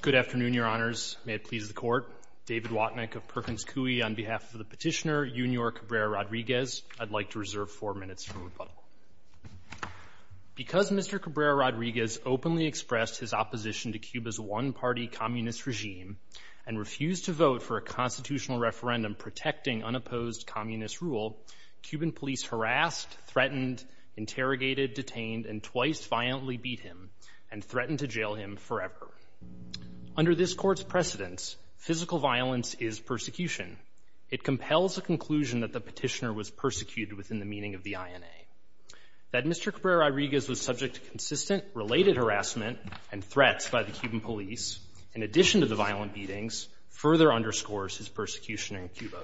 Good afternoon, your honors. May it please the court. David Watnick of Perkins Coie on behalf of the petitioner, Junior Cabrera-Rodriguez. I'd like to reserve four minutes for rebuttal. Because Mr. Cabrera-Rodriguez openly expressed his opposition to Cuba's one-party communist regime and refused to vote for a constitutional referendum protecting unopposed communist rule, Cuban police harassed, threatened, interrogated, detained, and twice violently beat him and threatened to jail him forever. Under this court's precedence, physical violence is persecution. It compels a conclusion that the petitioner was persecuted within the meaning of the INA. That Mr. Cabrera-Rodriguez was subject to consistent, related harassment and threats by the Cuban police, in addition to the violent beatings, further underscores his persecution in Cuba.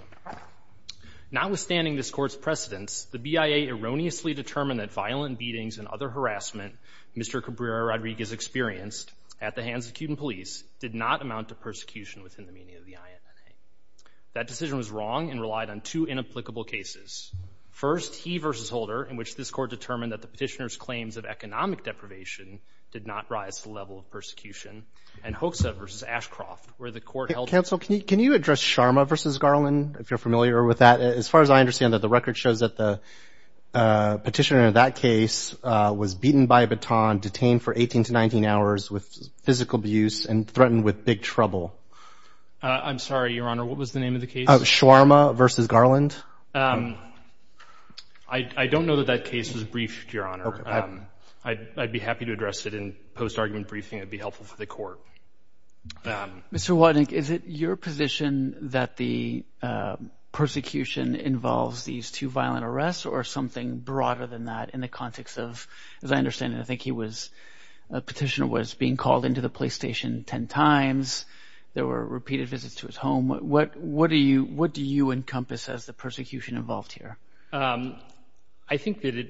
Notwithstanding this court's precedence, the BIA erroneously determined that violent beatings and other harassment Mr. Cabrera-Rodriguez experienced at the hands of Cuban police did not amount to persecution within the meaning of the INA. That decision was wrong and relied on two inapplicable cases. First, he v. Holder, in which this court determined that the petitioner's claims of economic deprivation did not rise to the level of persecution, and Hoekse v. Ashcroft, where the court held that the petitioner was beaten by a baton, detained for 18-19 hours with physical abuse and threatened with big trouble. I'm sorry, Your Honor, what was the name of the case? Schwarma v. Garland. I don't know that that case was briefed, Your Honor. I'd be happy to address it in post-argument briefing. It'd be helpful for the Court. Mr. Wodnik, is it your position that the persecution involves these two violent arrests or something broader than that in the context of, as I understand it, I think he was, the petitioner was being called into the police station 10 times. There were repeated visits to his home. What do you encompass as the persecution involved here? I think that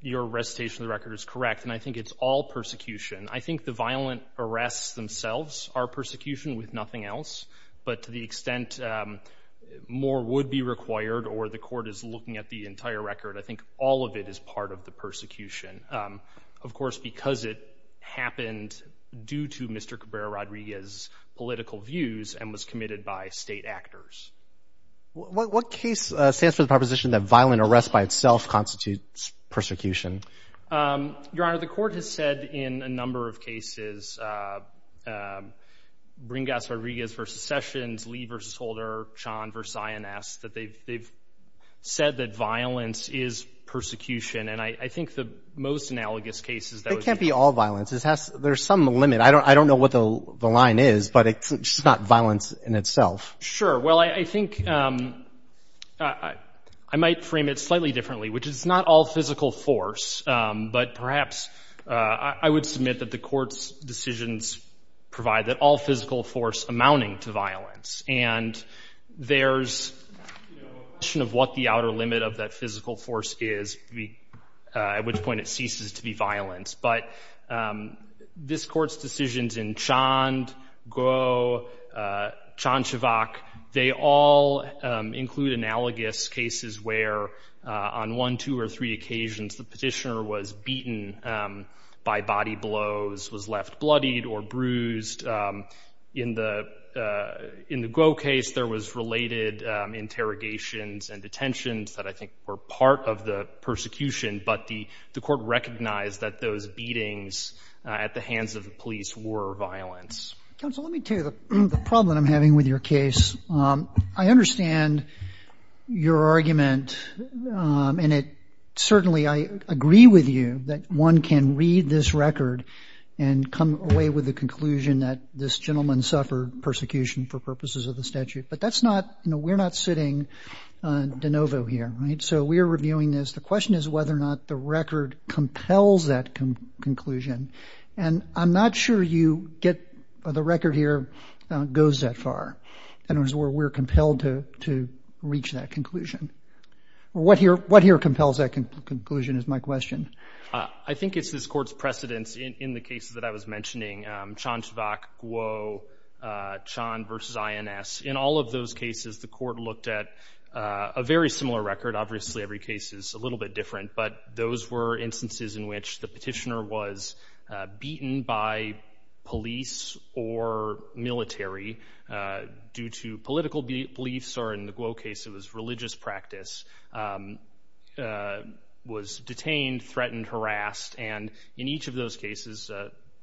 your recitation of the record is correct, and I think it's all persecution. I think the violent arrests themselves are persecution with nothing else, but to the extent more would be required or the Court is looking at the entire record, I think all of it is part of the persecution. Of course, because it happened due to Mr. Cabrera-Rodriguez's political views and was committed by state actors. What case stands for the proposition that violent arrests by itself constitutes persecution? Your Honor, the Court has said in a number of cases, Bringas-Rodriguez v. Sessions, Lee v. Holder, Sean v. Ayanaz, that they've said that violence is persecution, and I think the most analogous case is that would be- It can't be all violence. There's some limit. I don't know what the line is, but it's just not violence in itself. Sure. Well, I think I might frame it slightly differently, which is not all physical force, but perhaps I would submit that the Court's decisions provide that all physical force amounting to violence, and there's a question of what the outer limit of that physical force is, at which point it ceases to be violence. But this Court's decisions in Chand, Gou, Chanchevac, they all include analogous cases where on one, two, or three occasions the petitioner was beaten by body blows, was left bloodied or bruised. In the Gou case, there was related interrogations and detentions that I think were part of the persecution, but the Court recognized that those beatings at the hands of the police were violence. Counsel, let me tell you the problem that I'm having with your case. I understand your argument, and it certainly, I agree with you that one can read this record and come away with the conclusion that this gentleman suffered persecution for purposes of the statute, but that's not, you know, we're not sitting de novo here, right? So we're reviewing this. The question is whether or not the record compels that conclusion, and I'm not sure you get, the record here goes that far, in other words, where we're compelled to reach that conclusion. What here compels that conclusion is my question. I think it's this Court's precedence in the cases that I was mentioning, Chanchevac, Gou, Chan versus INS. In all of those cases, the Court looked at a very similar record. Obviously, every case is a little bit different, but those were instances in which the petitioner was beaten by police or military due to political beliefs, or in the Gou case, it was religious practice, was detained, threatened, harassed, and in each of those cases,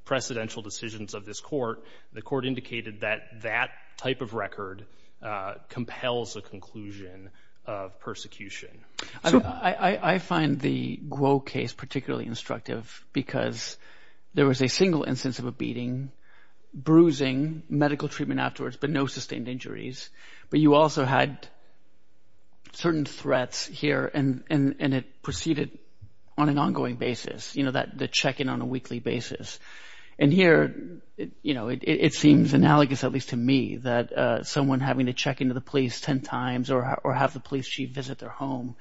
precedential decisions of this Court, the Court indicated that that type of record compels a conclusion of persecution. I find the Gou case particularly instructive because there was a single instance of a beating, bruising, medical treatment afterwards, but no sustained injuries, but you also had certain threats here, and it proceeded on an ongoing basis, you know, the check-in on a weekly basis, and here, you know, it seems analogous, at least to me, that someone having to check into the police 10 times or have the police chief visit their home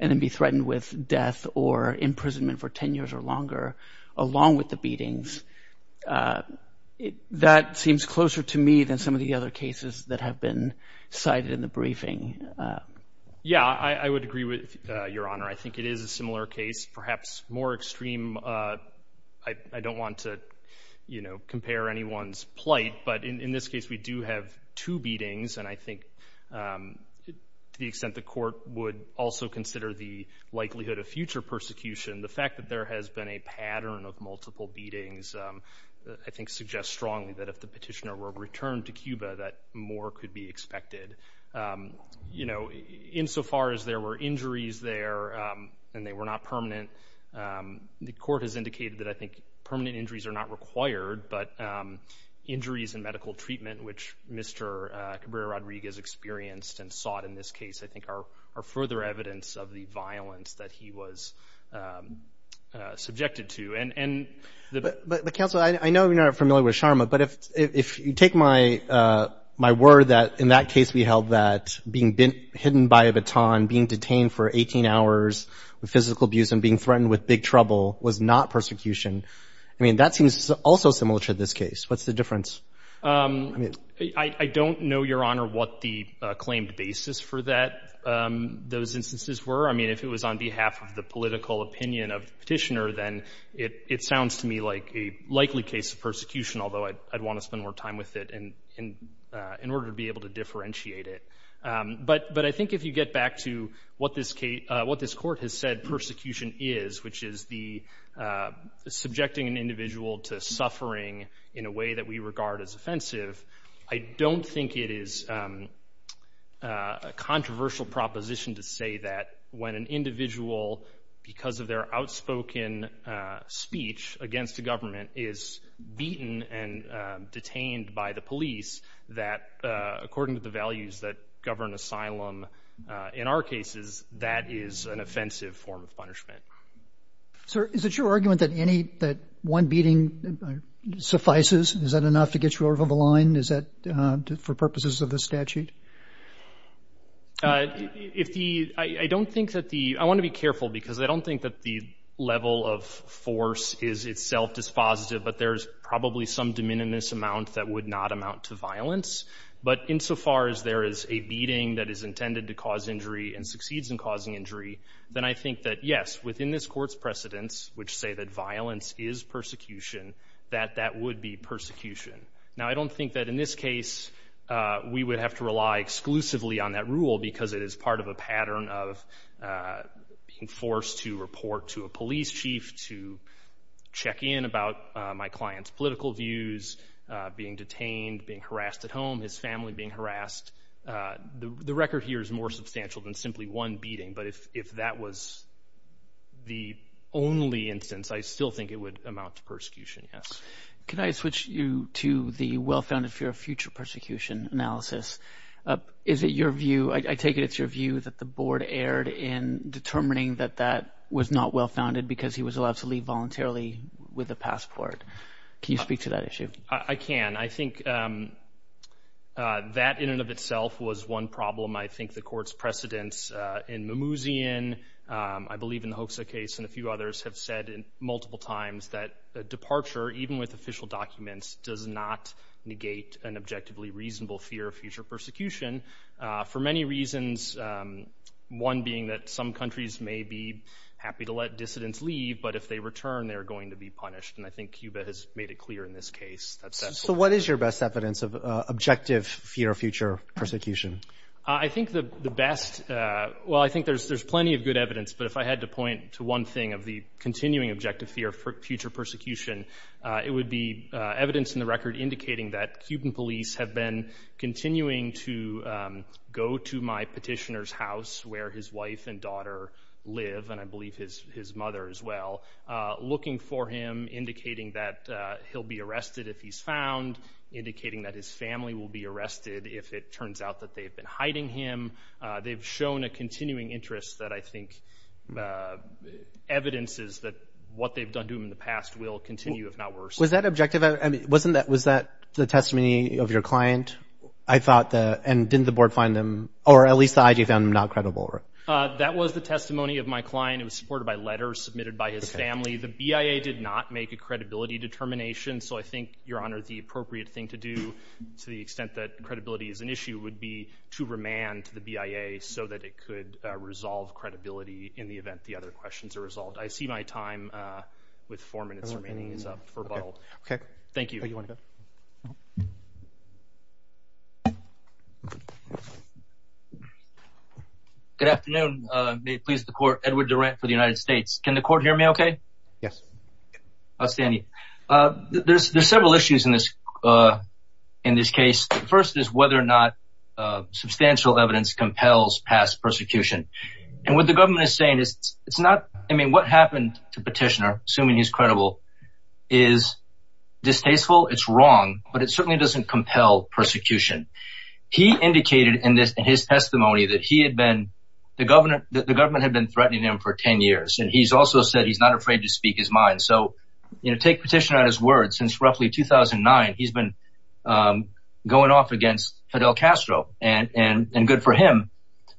and then be threatened with death or imprisonment for 10 years or longer, along with the beatings, that seems closer to me than some of the other cases that have been cited in the briefing. Yeah, I would agree with Your Honor. I think it is a similar case, perhaps more extreme, I don't want to, you know, compare anyone's plight, but in this case, we do have two beatings, and I think to the extent the Court would also consider the likelihood of future persecution, the fact that there has been a pattern of multiple beatings, I think, suggests strongly that if the petitioner were returned to Cuba, that more could be expected. You know, insofar as there were injuries there, and they were not permanent, the Court has indicated that I think permanent injuries are not required, but injuries and medical treatment, which Mr. Cabrera-Rodriguez experienced and sought in this case, I think are further evidence of the violence that he was subjected to. But Counsel, I know you're not familiar with Sharma, but if you take my word that in that case, we held that being hidden by a baton, being detained for 18 hours with physical abuse and being threatened with big trouble was not persecution, I mean, that seems also similar to this case. What's the difference? I don't know, Your Honor, what the claimed basis for that, those instances were. I mean, if it was on behalf of the political opinion of the petitioner, then it sounds to me like a likely case of persecution, although I'd want to spend more time with it in order to be able to differentiate it. But I think if you get back to what this Court has said persecution is, which is the subjecting an individual to suffering in a way that we regard as offensive, I don't think it is a controversial proposition to say that when an individual, because of their outspoken speech against the government, is beaten and detained by the police, that according to the values that govern asylum in our cases, that is an offensive form of punishment. Sir, is it your argument that any, that one beating suffices? Is that enough to get you over the line? Is that for purposes of the statute? If the, I don't think that the, I want to be careful because I don't think that the level of force is itself dispositive, but there's probably some de minimis amount that would not amount to violence. But insofar as there is a beating that is intended to cause injury and succeeds in causing injury, then I think that yes, within this Court's precedence, which say that violence is persecution, that that would be persecution. Now I don't think that in this case we would have to rely exclusively on that rule because it is part of a pattern of being forced to report to a police chief to check in about my client's being detained, being harassed at home, his family being harassed. The record here is more substantial than simply one beating, but if that was the only instance, I still think it would amount to persecution, yes. Can I switch you to the well-founded fear of future persecution analysis? Is it your view, I take it it's your view, that the Board erred in determining that that was not well-founded because he was allowed to leave voluntarily with a passport? Can you speak to that issue? I can. I think that in and of itself was one problem. I think the Court's precedence in Mimouzian, I believe in the Hoxha case, and a few others have said multiple times that a departure, even with official documents, does not negate an objectively reasonable fear of future persecution for many reasons, one being that some countries may be happy to let dissidents leave, but if they return, they're going to be punished. And I think So what is your best evidence of objective fear of future persecution? I think the best, well, I think there's plenty of good evidence, but if I had to point to one thing of the continuing objective fear of future persecution, it would be evidence in the record indicating that Cuban police have been continuing to go to my petitioner's house where his wife and daughter live, and I believe his mother as well, looking for him, indicating that he'll be arrested if he's found, indicating that his family will be arrested if it turns out that they've been hiding him. They've shown a continuing interest that I think evidences that what they've done to him in the past will continue, if not worse. Was that objective? I mean, wasn't that, was that the testimony of your client? I thought that, and didn't the board find them, or at least the IG found them not credible? That was the testimony of my client. It was supported by letters submitted by his family. The BIA did not make a credibility determination, so I think, Your Honor, the appropriate thing to do, to the extent that credibility is an issue, would be to remand the BIA so that it could resolve credibility in the event the other questions are resolved. I see my time with four minutes remaining is up for rebuttal. Thank you. Good afternoon. May it please the court, Edward Durant for the United States. Can the court hear me okay? Yes. Outstanding. There's several issues in this case. The first is whether or not substantial evidence compels past persecution. And what the government is saying is, it's not, I mean, what happened to Petitioner, assuming he's credible, is distasteful, it's wrong, but it certainly doesn't compel persecution. He indicated in his testimony that he had been threatening him for 10 years. And he's also said he's not afraid to speak his mind. So, you know, take Petitioner on his word. Since roughly 2009, he's been going off against Fidel Castro and good for him.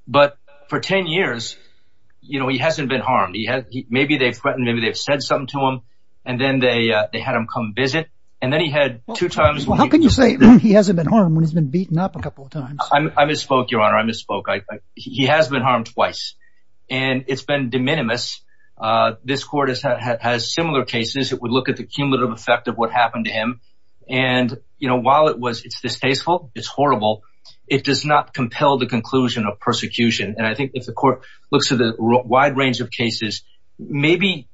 But for 10 years, you know, he hasn't been harmed. Maybe they've threatened, maybe they've said something to him. And then they had him come visit. And then he had two times. How can you say he hasn't been harmed when he's been beaten up a couple of times? I misspoke, Your Honor. I misspoke. He has been harmed twice. And it's been de minimis. This court has similar cases. It would look at the cumulative effect of what happened to him. And, you know, while it's distasteful, it's horrible, it does not compel the conclusion of persecution. And I think if the court looks at the wide range of cases, maybe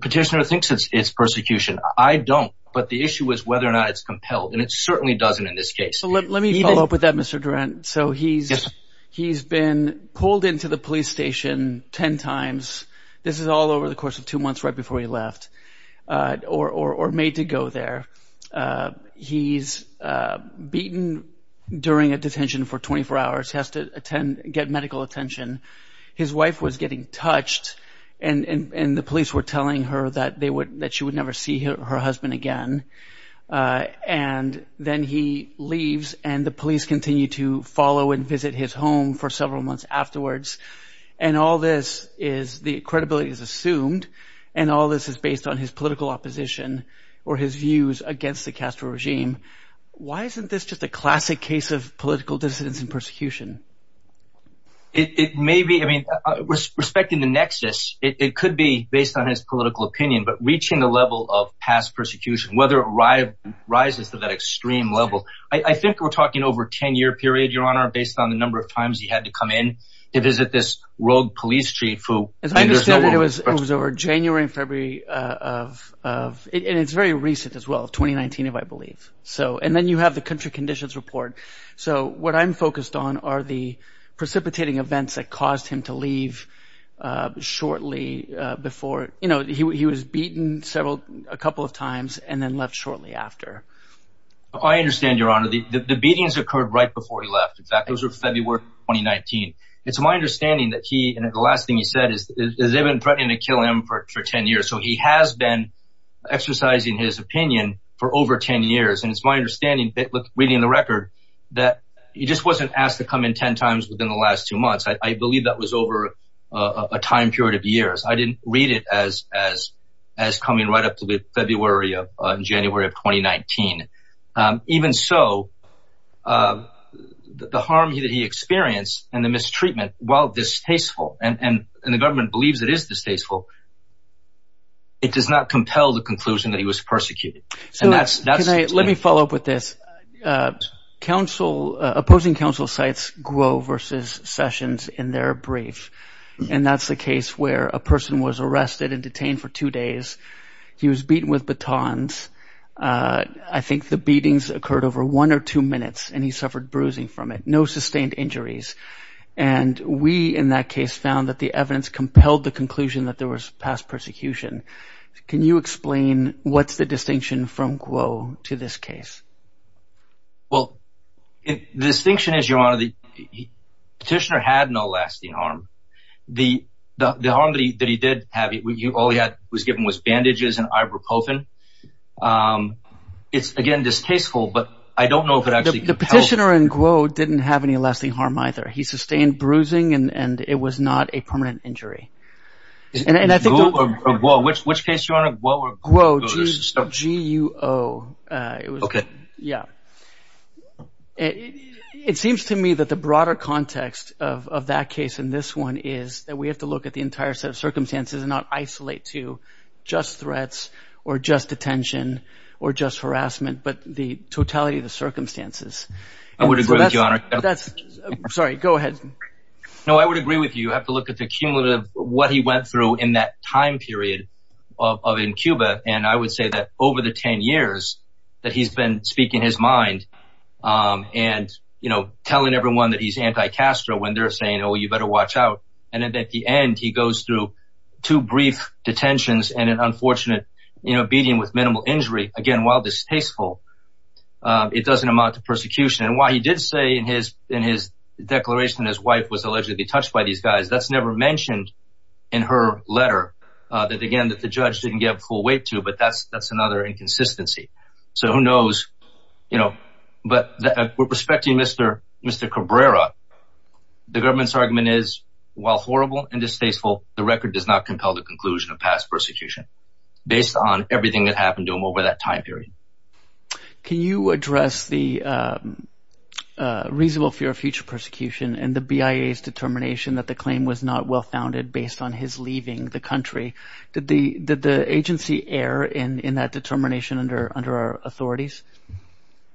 Petitioner thinks it's persecution. I don't. But the issue is whether or not it's compelled. And it certainly doesn't in this case. Let me follow up with that, Mr. Durant. So he's he's been pulled into the police station ten times. This is all over the course of two months right before he left or made to go there. He's beaten during a detention for 24 hours, has to attend, get medical attention. His wife was getting touched and the police were telling her that they would that she leaves and the police continue to follow and visit his home for several months afterwards. And all this is the credibility is assumed. And all this is based on his political opposition or his views against the Castro regime. Why isn't this just a classic case of political dissidence and persecution? It may be. I mean, respecting the nexus, it could be based on his political opinion, but reaching the level of past persecution, whether arrived, rises to that extreme level. I think we're talking over 10 year period, Your Honor, based on the number of times he had to come in to visit this rogue police chief who was over January and February of it. It's very recent as well. Twenty nineteen, if I believe so. And then you have the country conditions report. So what I'm focused on are the precipitating events that caused him to leave shortly before. You know, he was beaten several a couple of times and then left shortly after. I understand, Your Honor, the beatings occurred right before he left. In fact, those were February 2019. It's my understanding that he and the last thing he said is they've been threatening to kill him for 10 years. So he has been exercising his opinion for over 10 years. And it's my understanding that reading the record that he just wasn't asked to come in 10 times within the last two months. I believe that was over a time period of years. I didn't read it as as as coming right up to the February of January of twenty nineteen. Even so, the harm that he experienced and the mistreatment, while distasteful and the government believes it is distasteful. It does not compel the conclusion that he was persecuted. So that's that's right. Let me follow up with this. Council opposing sites grow versus sessions in their brief. And that's the case where a person was arrested and detained for two days. He was beaten with batons. I think the beatings occurred over one or two minutes and he suffered bruising from it. No sustained injuries. And we in that case found that the evidence compelled the conclusion that there was past persecution. Can you explain what's the distinction from Guo to this case? Well, the distinction is your honor, the petitioner had no lasting harm. The the harm that he did have, all he had was given was bandages and ibuprofen. It's, again, distasteful, but I don't know if it actually the petitioner and Guo didn't have any lasting harm either. He sustained bruising and it was not a permanent G.U.O. Okay. Yeah. It seems to me that the broader context of that case in this one is that we have to look at the entire set of circumstances and not isolate to just threats or just detention or just harassment, but the totality of the circumstances. I would agree with you on that. That's sorry. Go ahead. No, I would agree with you. You have to look at the cumulative what he went through in that time period of in Cuba. And I would say that over the 10 years that he's been speaking his mind and, you know, telling everyone that he's anti Castro when they're saying, oh, you better watch out. And at the end, he goes through two brief detentions and an unfortunate, you know, beating with minimal injury. Again, while distasteful, it doesn't amount to persecution. And why he did say in his in his declaration, his wife was never mentioned in her letter that, again, that the judge didn't give full weight to. But that's that's another inconsistency. So who knows? You know, but we're respecting Mr. Mr. Cabrera. The government's argument is, while horrible and distasteful, the record does not compel the conclusion of past persecution based on everything that happened to him over that time period. Can you address the reasonable fear of future persecution and the BIA's determination that the claim was not well founded based on his leaving the country? Did the did the agency err in in that determination under under our authorities?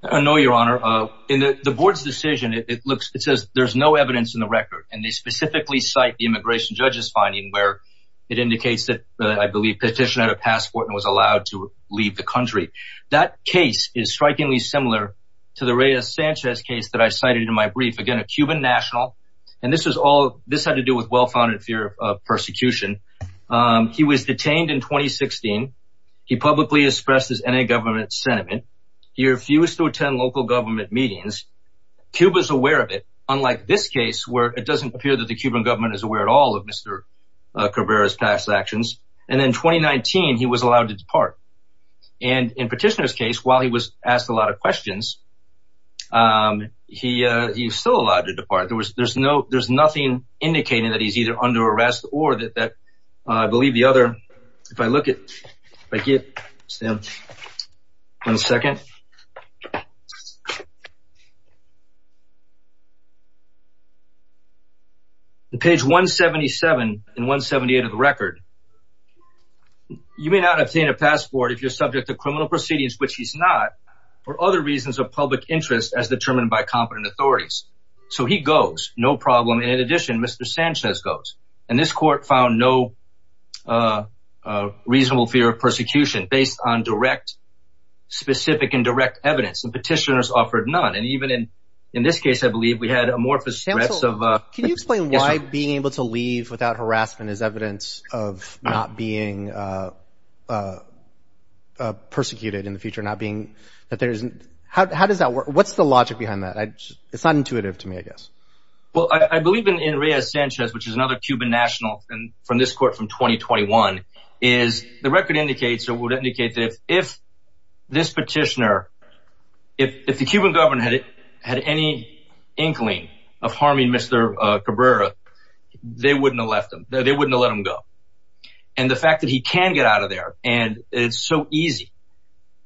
No, your honor. In the board's decision, it looks it says there's no evidence in the record. And they specifically cite the immigration judge's finding where it indicates that I believe petitioner had a passport and was allowed to leave the country. That case is strikingly similar to the Reyes Sanchez case that I cited in my brief, again, a Cuban national. And this was all this had to do with well founded fear of persecution. He was detained in 2016. He publicly expressed his NA government sentiment. He refused to attend local government meetings. Cuba's aware of it, unlike this case, where it doesn't appear that the Cuban government is aware at all of Mr. Cabrera's past actions. And then 2019, he was allowed to depart. And in petitioner's case, while he was asked a lot of questions, he he's still allowed to depart. There was there's no there's nothing indicating that he's either under arrest or that that I believe the other if I look at it, I get one second. The page 177 and 178 of the record. You may not obtain a passport if you're subject to authorities. So he goes. No problem. And in addition, Mr. Sanchez goes. And this court found no reasonable fear of persecution based on direct, specific and direct evidence. And petitioners offered none. And even in in this case, I believe we had amorphous. Can you explain why being able to leave without harassment is evidence of not being persecuted in the future, not being that how does that work? What's the logic behind that? It's not intuitive to me, I guess. Well, I believe in in Reyes Sanchez, which is another Cuban national and from this court from 2021 is the record indicates it would indicate that if this petitioner, if the Cuban government had any inkling of harming Mr. Cabrera, they wouldn't have left them. They wouldn't let him go. And the fact that he can get out of there and it's so easy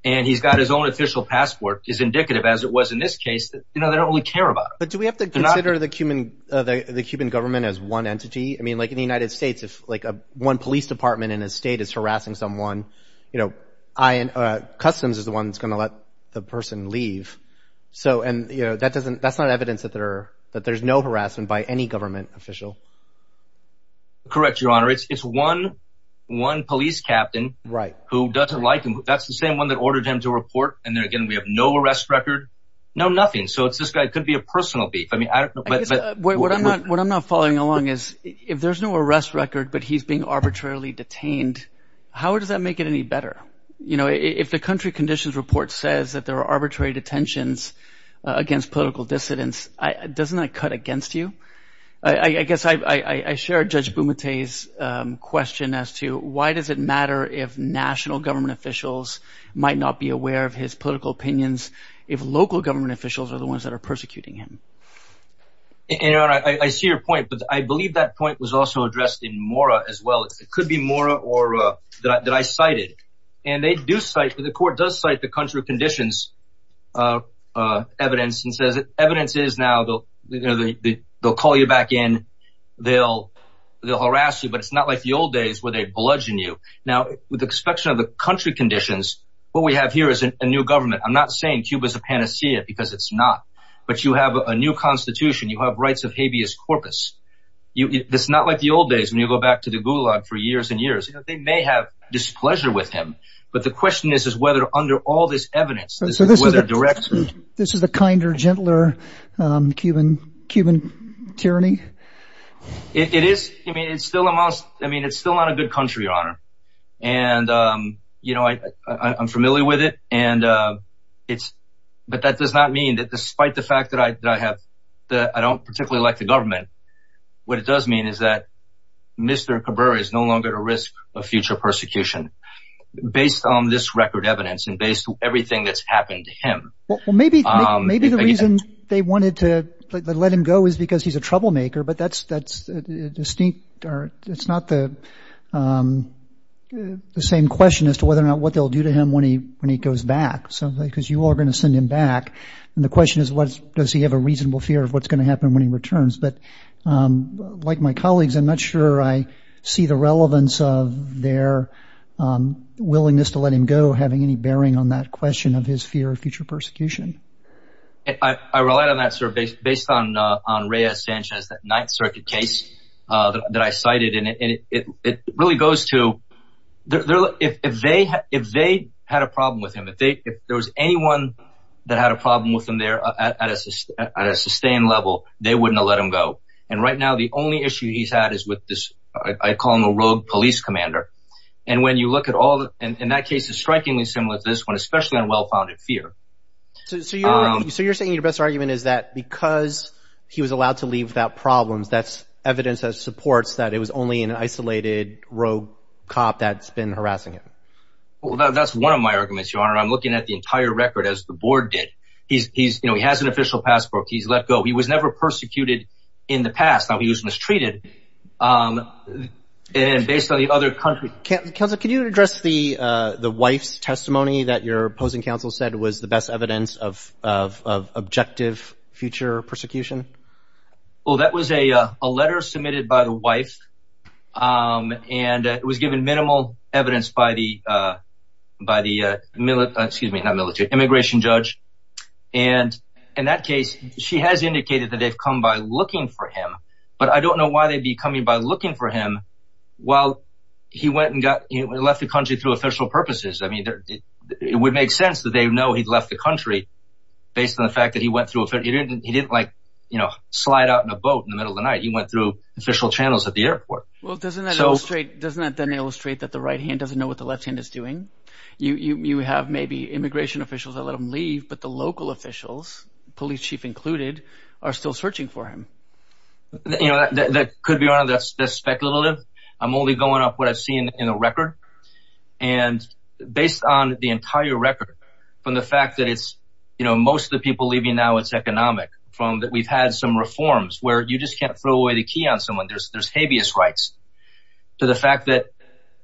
and he's got his own official passport is indicative, as it was in this case, that they don't really care about. But do we have to consider the Cuban the Cuban government as one entity? I mean, like in the United States, if like one police department in a state is harassing someone, you know, I and customs is the one that's going to let the person leave. So and that doesn't that's not evidence that there that there's no harassment by any government official. Correct, Your Honor. It's one one police captain. Right. Who doesn't like him. That's the same one that ordered him to report. And then again, we have no arrest record. No, nothing. So it's this guy could be a personal beef. I mean, I guess what I'm not what I'm not following along is if there's no arrest record, but he's being arbitrarily detained. How does that make it any better? You know, if the country conditions report says that there are arbitrary detentions against political dissidents, doesn't that cut against you? I guess I share Judge Bumate's question as to why does it matter if national government officials might not be aware of his political opinions if local government officials are the ones that are persecuting him? And I see your point, but I believe that point was also addressed in Mora as well. It could be more or that I cited and they do cite the court does cite the country conditions evidence and says evidence is now they'll call you back in. They'll they'll harass you, but it's not like the old days where they bludgeon you. Now, with respect to the country conditions, what we have here is a new government. I'm not saying Cuba's a panacea because it's not, but you have a new constitution. You have rights of habeas corpus. It's not like the old days when you go back to the gulag for years and years, they may have displeasure with him. But the question is, is whether under all this evidence, so this is a kinder, gentler Cuban tyranny. It is. I mean, it's still a must. I mean, it's still not a good country, your honor. And, you know, I'm familiar with it. And it's but that does not mean that despite the fact that I have that I don't particularly like the government. What it does mean is that Mr. Cabrera is no longer at risk of future persecution based on this record evidence and based on everything that's happened to him. Well, maybe maybe the reason they wanted to let him go is because he's a troublemaker. But that's that's distinct or it's not the same question as to whether or not what they'll do to him when he when he goes back. So because you are going to send him back. And the question is, what does he have a reasonable fear of what's going to happen when he returns? But like my colleagues, I'm not sure I see the relevance of their willingness to let him go, having any bearing on that question of his fear of future persecution. I rely on that sort of based on on Reyes Sanchez, that Ninth Circuit case that I cited. And it really goes to if they if they had a problem with him, if there was anyone that had a problem with at a sustained level, they wouldn't let him go. And right now, the only issue he's had is with this. I call him a rogue police commander. And when you look at all in that case is strikingly similar to this one, especially on well-founded fear. So you're so you're saying your best argument is that because he was allowed to leave without problems, that's evidence that supports that it was only an isolated rogue cop that's been harassing him. Well, that's one of my records as the board did. He's he's you know, he has an official passport. He's let go. He was never persecuted in the past. He was mistreated and based on the other country. Can you address the the wife's testimony that your opposing counsel said was the best evidence of of objective future persecution? Well, that was a letter submitted by the wife and it was given minimal evidence by the by the military, excuse me, not military immigration judge. And in that case, she has indicated that they've come by looking for him. But I don't know why they'd be coming by looking for him. While he went and got left the country through official purposes. I mean, it would make sense that they know he'd left the country based on the fact that he went through it. He didn't he didn't like, you know, slide out in a boat in the middle of the night. He went through official channels at the airport. Well, doesn't that illustrate doesn't that then illustrate that the right hand doesn't know what the left hand is doing? You have maybe immigration officials that let them leave, but the local officials, police chief included, are still searching for him. You know, that could be on the speculative. I'm only going off what I've seen in the record. And based on the entire record, from the fact that it's, you know, most of the people leaving now it's economic from that we've had some reforms where you just can't throw away the on someone. There's there's habeas rights to the fact that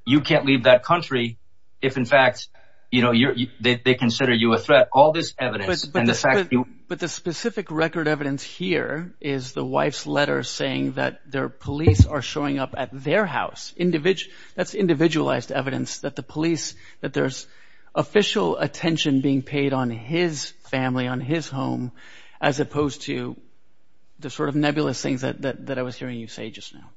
you can't leave that country. If, in fact, you know, you're they consider you a threat. All this evidence and the fact. But the specific record evidence here is the wife's letter saying that their police are showing up at their house individual. That's individualized evidence that the police that there's official attention being paid on his family, on his home, as opposed to the sort of nebulous things that I was hearing you say just now.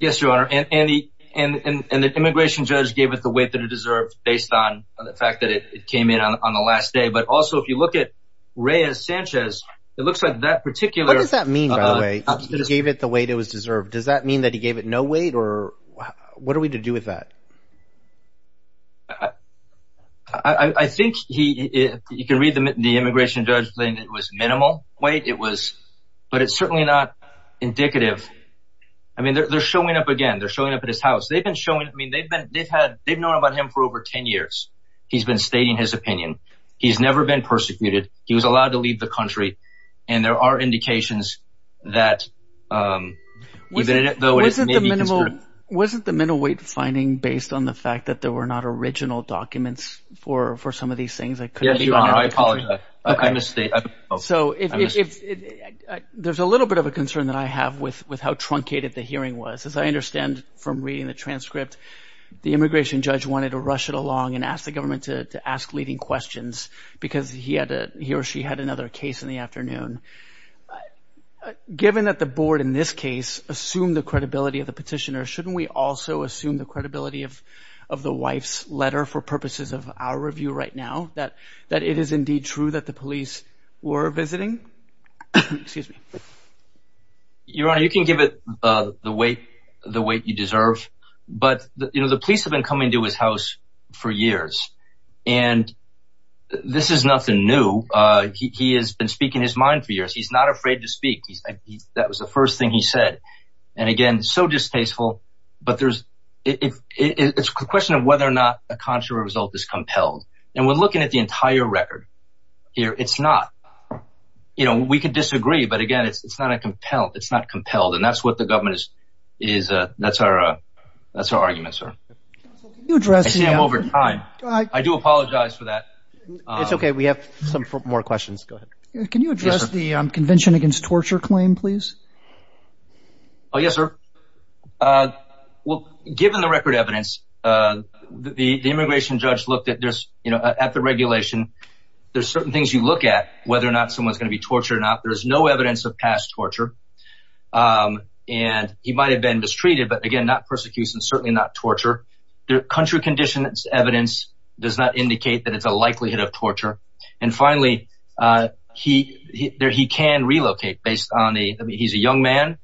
Yes, your honor. And the immigration judge gave it the weight that it deserved based on the fact that it came in on the last day. But also, if you look at Reyes Sanchez, it looks like that particular. What does that mean? He gave it the weight it was deserved. Does that mean that he gave it no weight or what are we to do with that? I think he you can read the immigration judge saying it was minimal weight. It was. But it's indicative. I mean, they're showing up again. They're showing up at his house. They've been showing I mean, they've been they've had they've known about him for over 10 years. He's been stating his opinion. He's never been persecuted. He was allowed to leave the country. And there are indications that even though it wasn't the minimal, wasn't the middleweight finding based on the fact that there were not original documents for for some of these things. Yes, your honor, I apologize. I misstate. So if there's a little bit of a concern that I have with with how truncated the hearing was, as I understand from reading the transcript, the immigration judge wanted to rush it along and ask the government to ask leading questions because he had a he or she had another case in the afternoon. Given that the board in this case assumed the credibility of the petitioner, shouldn't we also assume the credibility of of the wife's letter for purposes of our review right now that that it is indeed true that the police were visiting? Excuse me. Your honor, you can give it the way the way you deserve. But you know, the police have been coming to his house for years. And this is nothing new. He has been speaking his mind for years. He's not afraid to speak. That was the first thing he said. And again, so distasteful. But there's if it's a question of whether or not a contrary result is compelled. And we're looking at the entire record here. It's not you know, we could disagree. But again, it's not a compelled. It's not compelled. And that's what the government is. Is that's our that's our argument, sir. You address him over time. I do apologize for that. It's OK. We have some more questions. Go ahead. Can you address the Convention Against Torture claim, please? Oh, yes, sir. Well, given the record evidence, the immigration judge looked at this, you know, at the regulation. There's certain things you look at whether or not someone's going to be tortured or not. There's no evidence of past torture. And he might have been mistreated, but again, not persecution, certainly not torture. The country conditions evidence does not indicate that it's a likelihood of torture. And finally, he there he can relocate based on the he's a young man.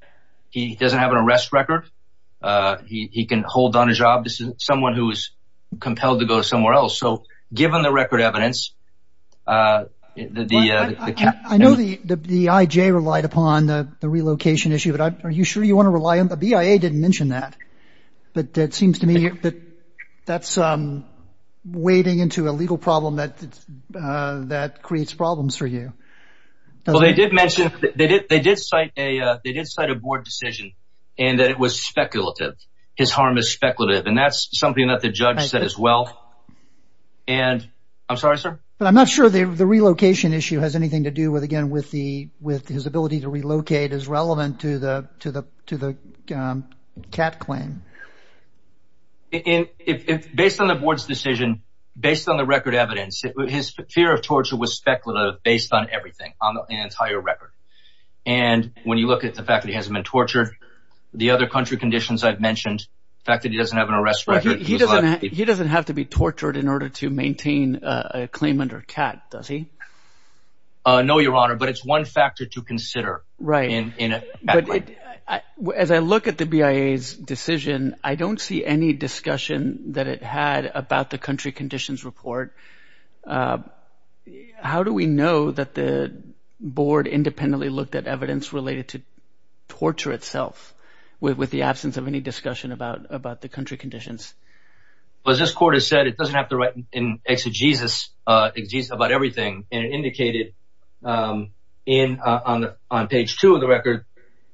He doesn't have an arrest record. He can hold on his job. This is someone who is compelled to go somewhere else. So given the record evidence, the I know the IJ relied upon the relocation issue. But are you sure you want to rely on the BIA? Didn't mention that. But it seems to me that that's wading into a legal problem that that creates problems for you. Well, they did mention that they did they did cite a they did cite a board decision and that it was speculative. His harm is speculative. And that's something that the judge said as well. And I'm sorry, sir, but I'm not sure the relocation issue has anything to do with again with the with his ability to relocate is relevant to the to the to the cat claim. Based on the board's decision, based on the record evidence, his fear of torture was speculative based on everything on the entire record. And when you look at the fact that he hasn't been tortured, the other country conditions I've mentioned, the fact that he doesn't have an arrest record, he doesn't he doesn't have to be tortured in order to maintain a claim under cat, does he? No, Your Honor, but it's one factor to consider. Right. And as I look at the BIA's decision, I don't see any discussion that it had about the country conditions report. How do we know that the board independently looked at evidence related to torture itself with the absence of any discussion about about the country conditions? Well, as this court has said, it doesn't have to write in exegesis about everything. And it indicated in on the on page two of the record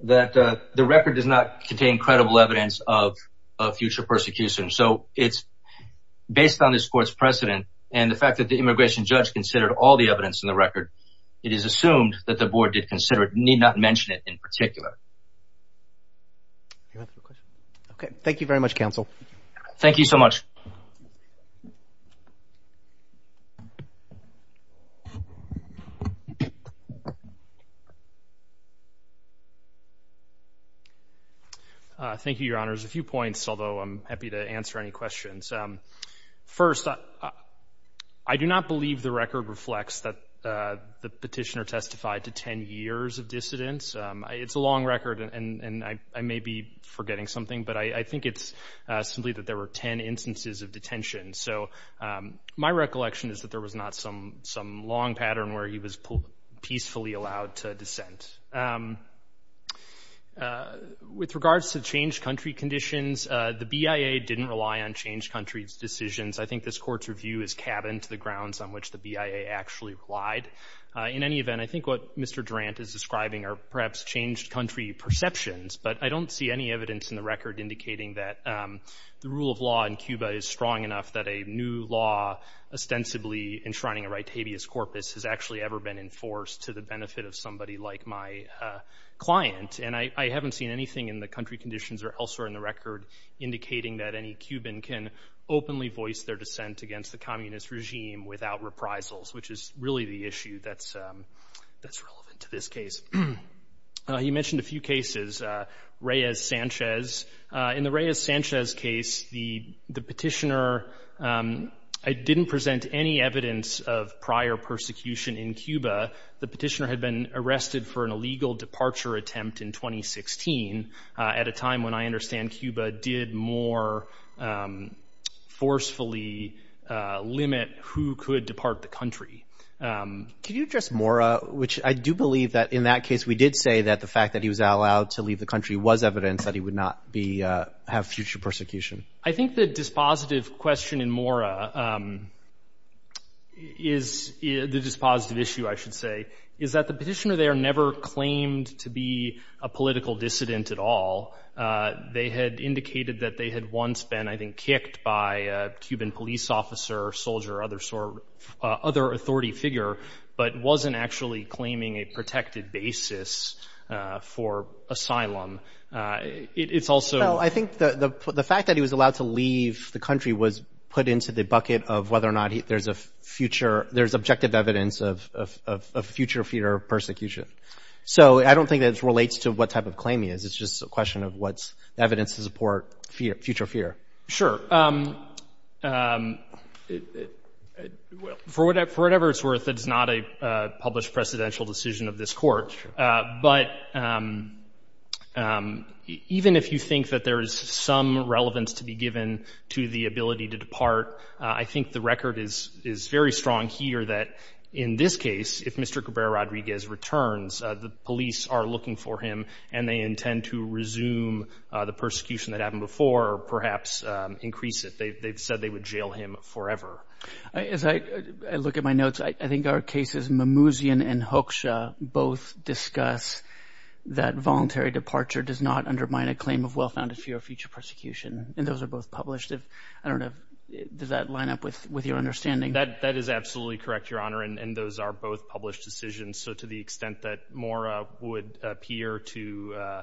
that the record does not contain credible evidence of future persecution. So it's based on this court's precedent and the fact that the immigration judge considered all the evidence in the record. It is assumed that the board did consider it need not mention it in particular. OK, thank you very much, counsel. Thank you so much. Thank you, Your Honors. A few points, although I'm happy to answer any questions. First, I do not believe the record reflects that the petitioner testified to 10 years of dissidence. It's a long record and I may be forgetting something, but I think it's simply that there were 10 instances of detention. So my recollection is that there was not some some long pattern where he was peacefully allowed to dissent. With regards to changed country conditions, the BIA didn't rely on changed country's decisions. I think this court's review is cabin to the grounds on which the BIA actually relied. In any event, I think what Mr. Durant is describing are perhaps changed country perceptions, but I don't see any evidence in the record indicating that the rule of law in Cuba is strong enough that a new law ostensibly enshrining a right habeas corpus has actually ever been enforced to the benefit of somebody like my client. And I haven't seen anything in the country conditions or elsewhere in the record indicating that any Cuban can openly voice their dissent against the communist regime without reprisals, which is really the issue that's relevant to this case. You mentioned a few cases, Reyes-Sanchez. In the Reyes-Sanchez case, the petitioner didn't present any evidence of prior persecution in Cuba. The petitioner had been arrested for an illegal departure attempt in 2016 at a time when I understand Cuba did more forcefully limit who could depart the country. Can you address Mora, which I do believe that in that case we did say that the fact that he was allowed to leave the country was evidence that he would not have future persecution? I think the dispositive question in Mora, the dispositive issue, I should say, is that the petitioner there never claimed to be a political dissident at all. They had indicated that they had once been, I think, kicked by a Cuban police officer, soldier, other authority figure, but wasn't actually claiming a protected basis for asylum. It's also- Well, I think the fact that he was allowed to leave the country was put into the bucket of whether or not there's objective evidence of future fear of persecution. I don't think that it relates to what type of claim he is. It's just a question of what's evidence to support future fear. Sure. For whatever it's worth, it's not a published precedential decision of this court, but even if you think that there is some relevance to be given to the ability to depart, I think the record is very strong here that in this case, if Mr. Cabrera-Rodriguez returns, the police are looking for him and they intend to resume the persecution that happened before, perhaps increase it. They've said they would jail him forever. As I look at my notes, I think our cases, Mimouzian and Hoksha, both discuss that voluntary departure does not undermine a claim of well-founded fear of future persecution, and those are both published. I don't know. Does that line up with your understanding? That is absolutely correct, Your Honor, and those are both published decisions. So, to the extent that more would appear to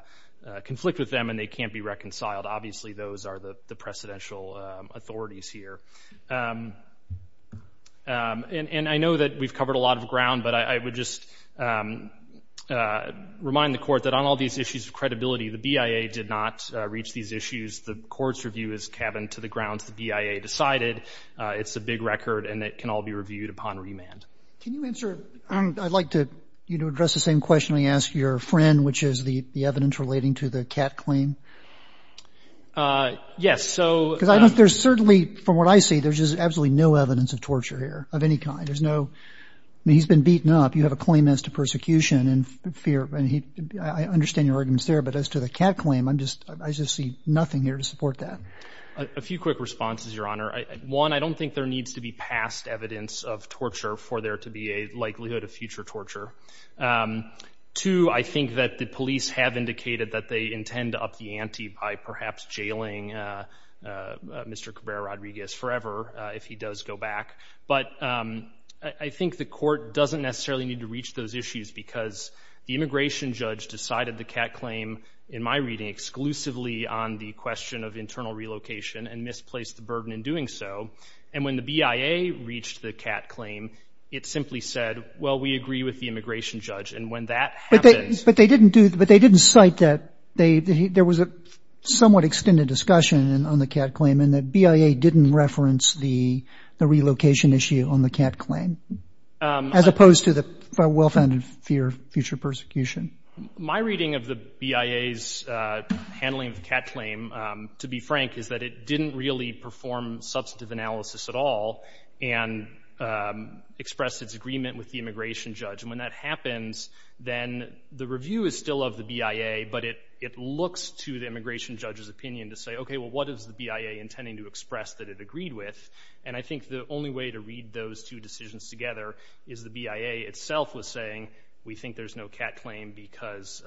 conflict with them and they can't be reconciled, obviously those are the precedential authorities here. I know that we've covered a lot of ground, but I would just remind the Court that on all these issues of credibility, the BIA did not reach these issues. The Court's review is cabin to the grounds the BIA decided. It's a big record and it can all be reviewed upon remand. Can you answer? I'd like to address the same question I asked your friend, which is the yes. So, there's certainly, from what I see, there's just absolutely no evidence of torture here of any kind. There's no, I mean, he's been beaten up. You have a claim as to persecution and fear, and he, I understand your arguments there, but as to the cat claim, I'm just, I just see nothing here to support that. A few quick responses, Your Honor. One, I don't think there needs to be past evidence of torture for there to be a likelihood of future torture. Two, I think that the police have indicated that they intend to up the ante by perhaps jailing Mr. Cabrera-Rodriguez forever if he does go back. But I think the Court doesn't necessarily need to reach those issues because the immigration judge decided the cat claim, in my reading, exclusively on the question of internal relocation and misplaced the burden in doing so. And when the BIA reached the cat claim, it simply said, well, we agree with the immigration judge. And when that happens... But they didn't do, but they didn't cite that they, there was a somewhat extended discussion on the cat claim and the BIA didn't reference the relocation issue on the cat claim, as opposed to the well-founded fear of future persecution. My reading of the BIA's handling of the cat claim, to be frank, is that it didn't really perform substantive analysis at all and expressed its agreement with the immigration judge. And when that happens, then the review is still of the BIA, but it looks to the immigration judge's opinion to say, okay, well, what is the BIA intending to express that it agreed with? And I think the only way to read those two decisions together is the BIA itself was saying, we think there's no cat claim because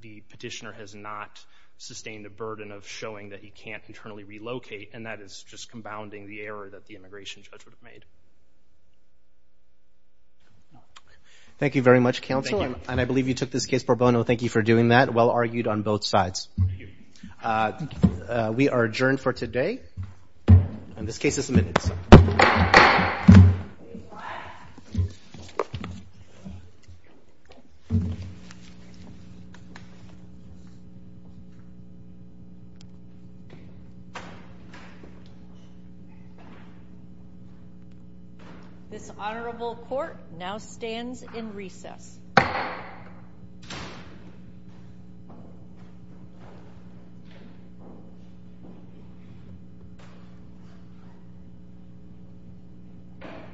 the petitioner has not sustained the burden of the fact that he can't internally relocate. And that is just compounding the error that the immigration judge would have made. Thank you very much, counsel. And I believe you took this case for bono. Thank you for doing that. Well argued on both sides. We are adjourned for today. And this case is submitted. Okay. This honorable court now stands in recess.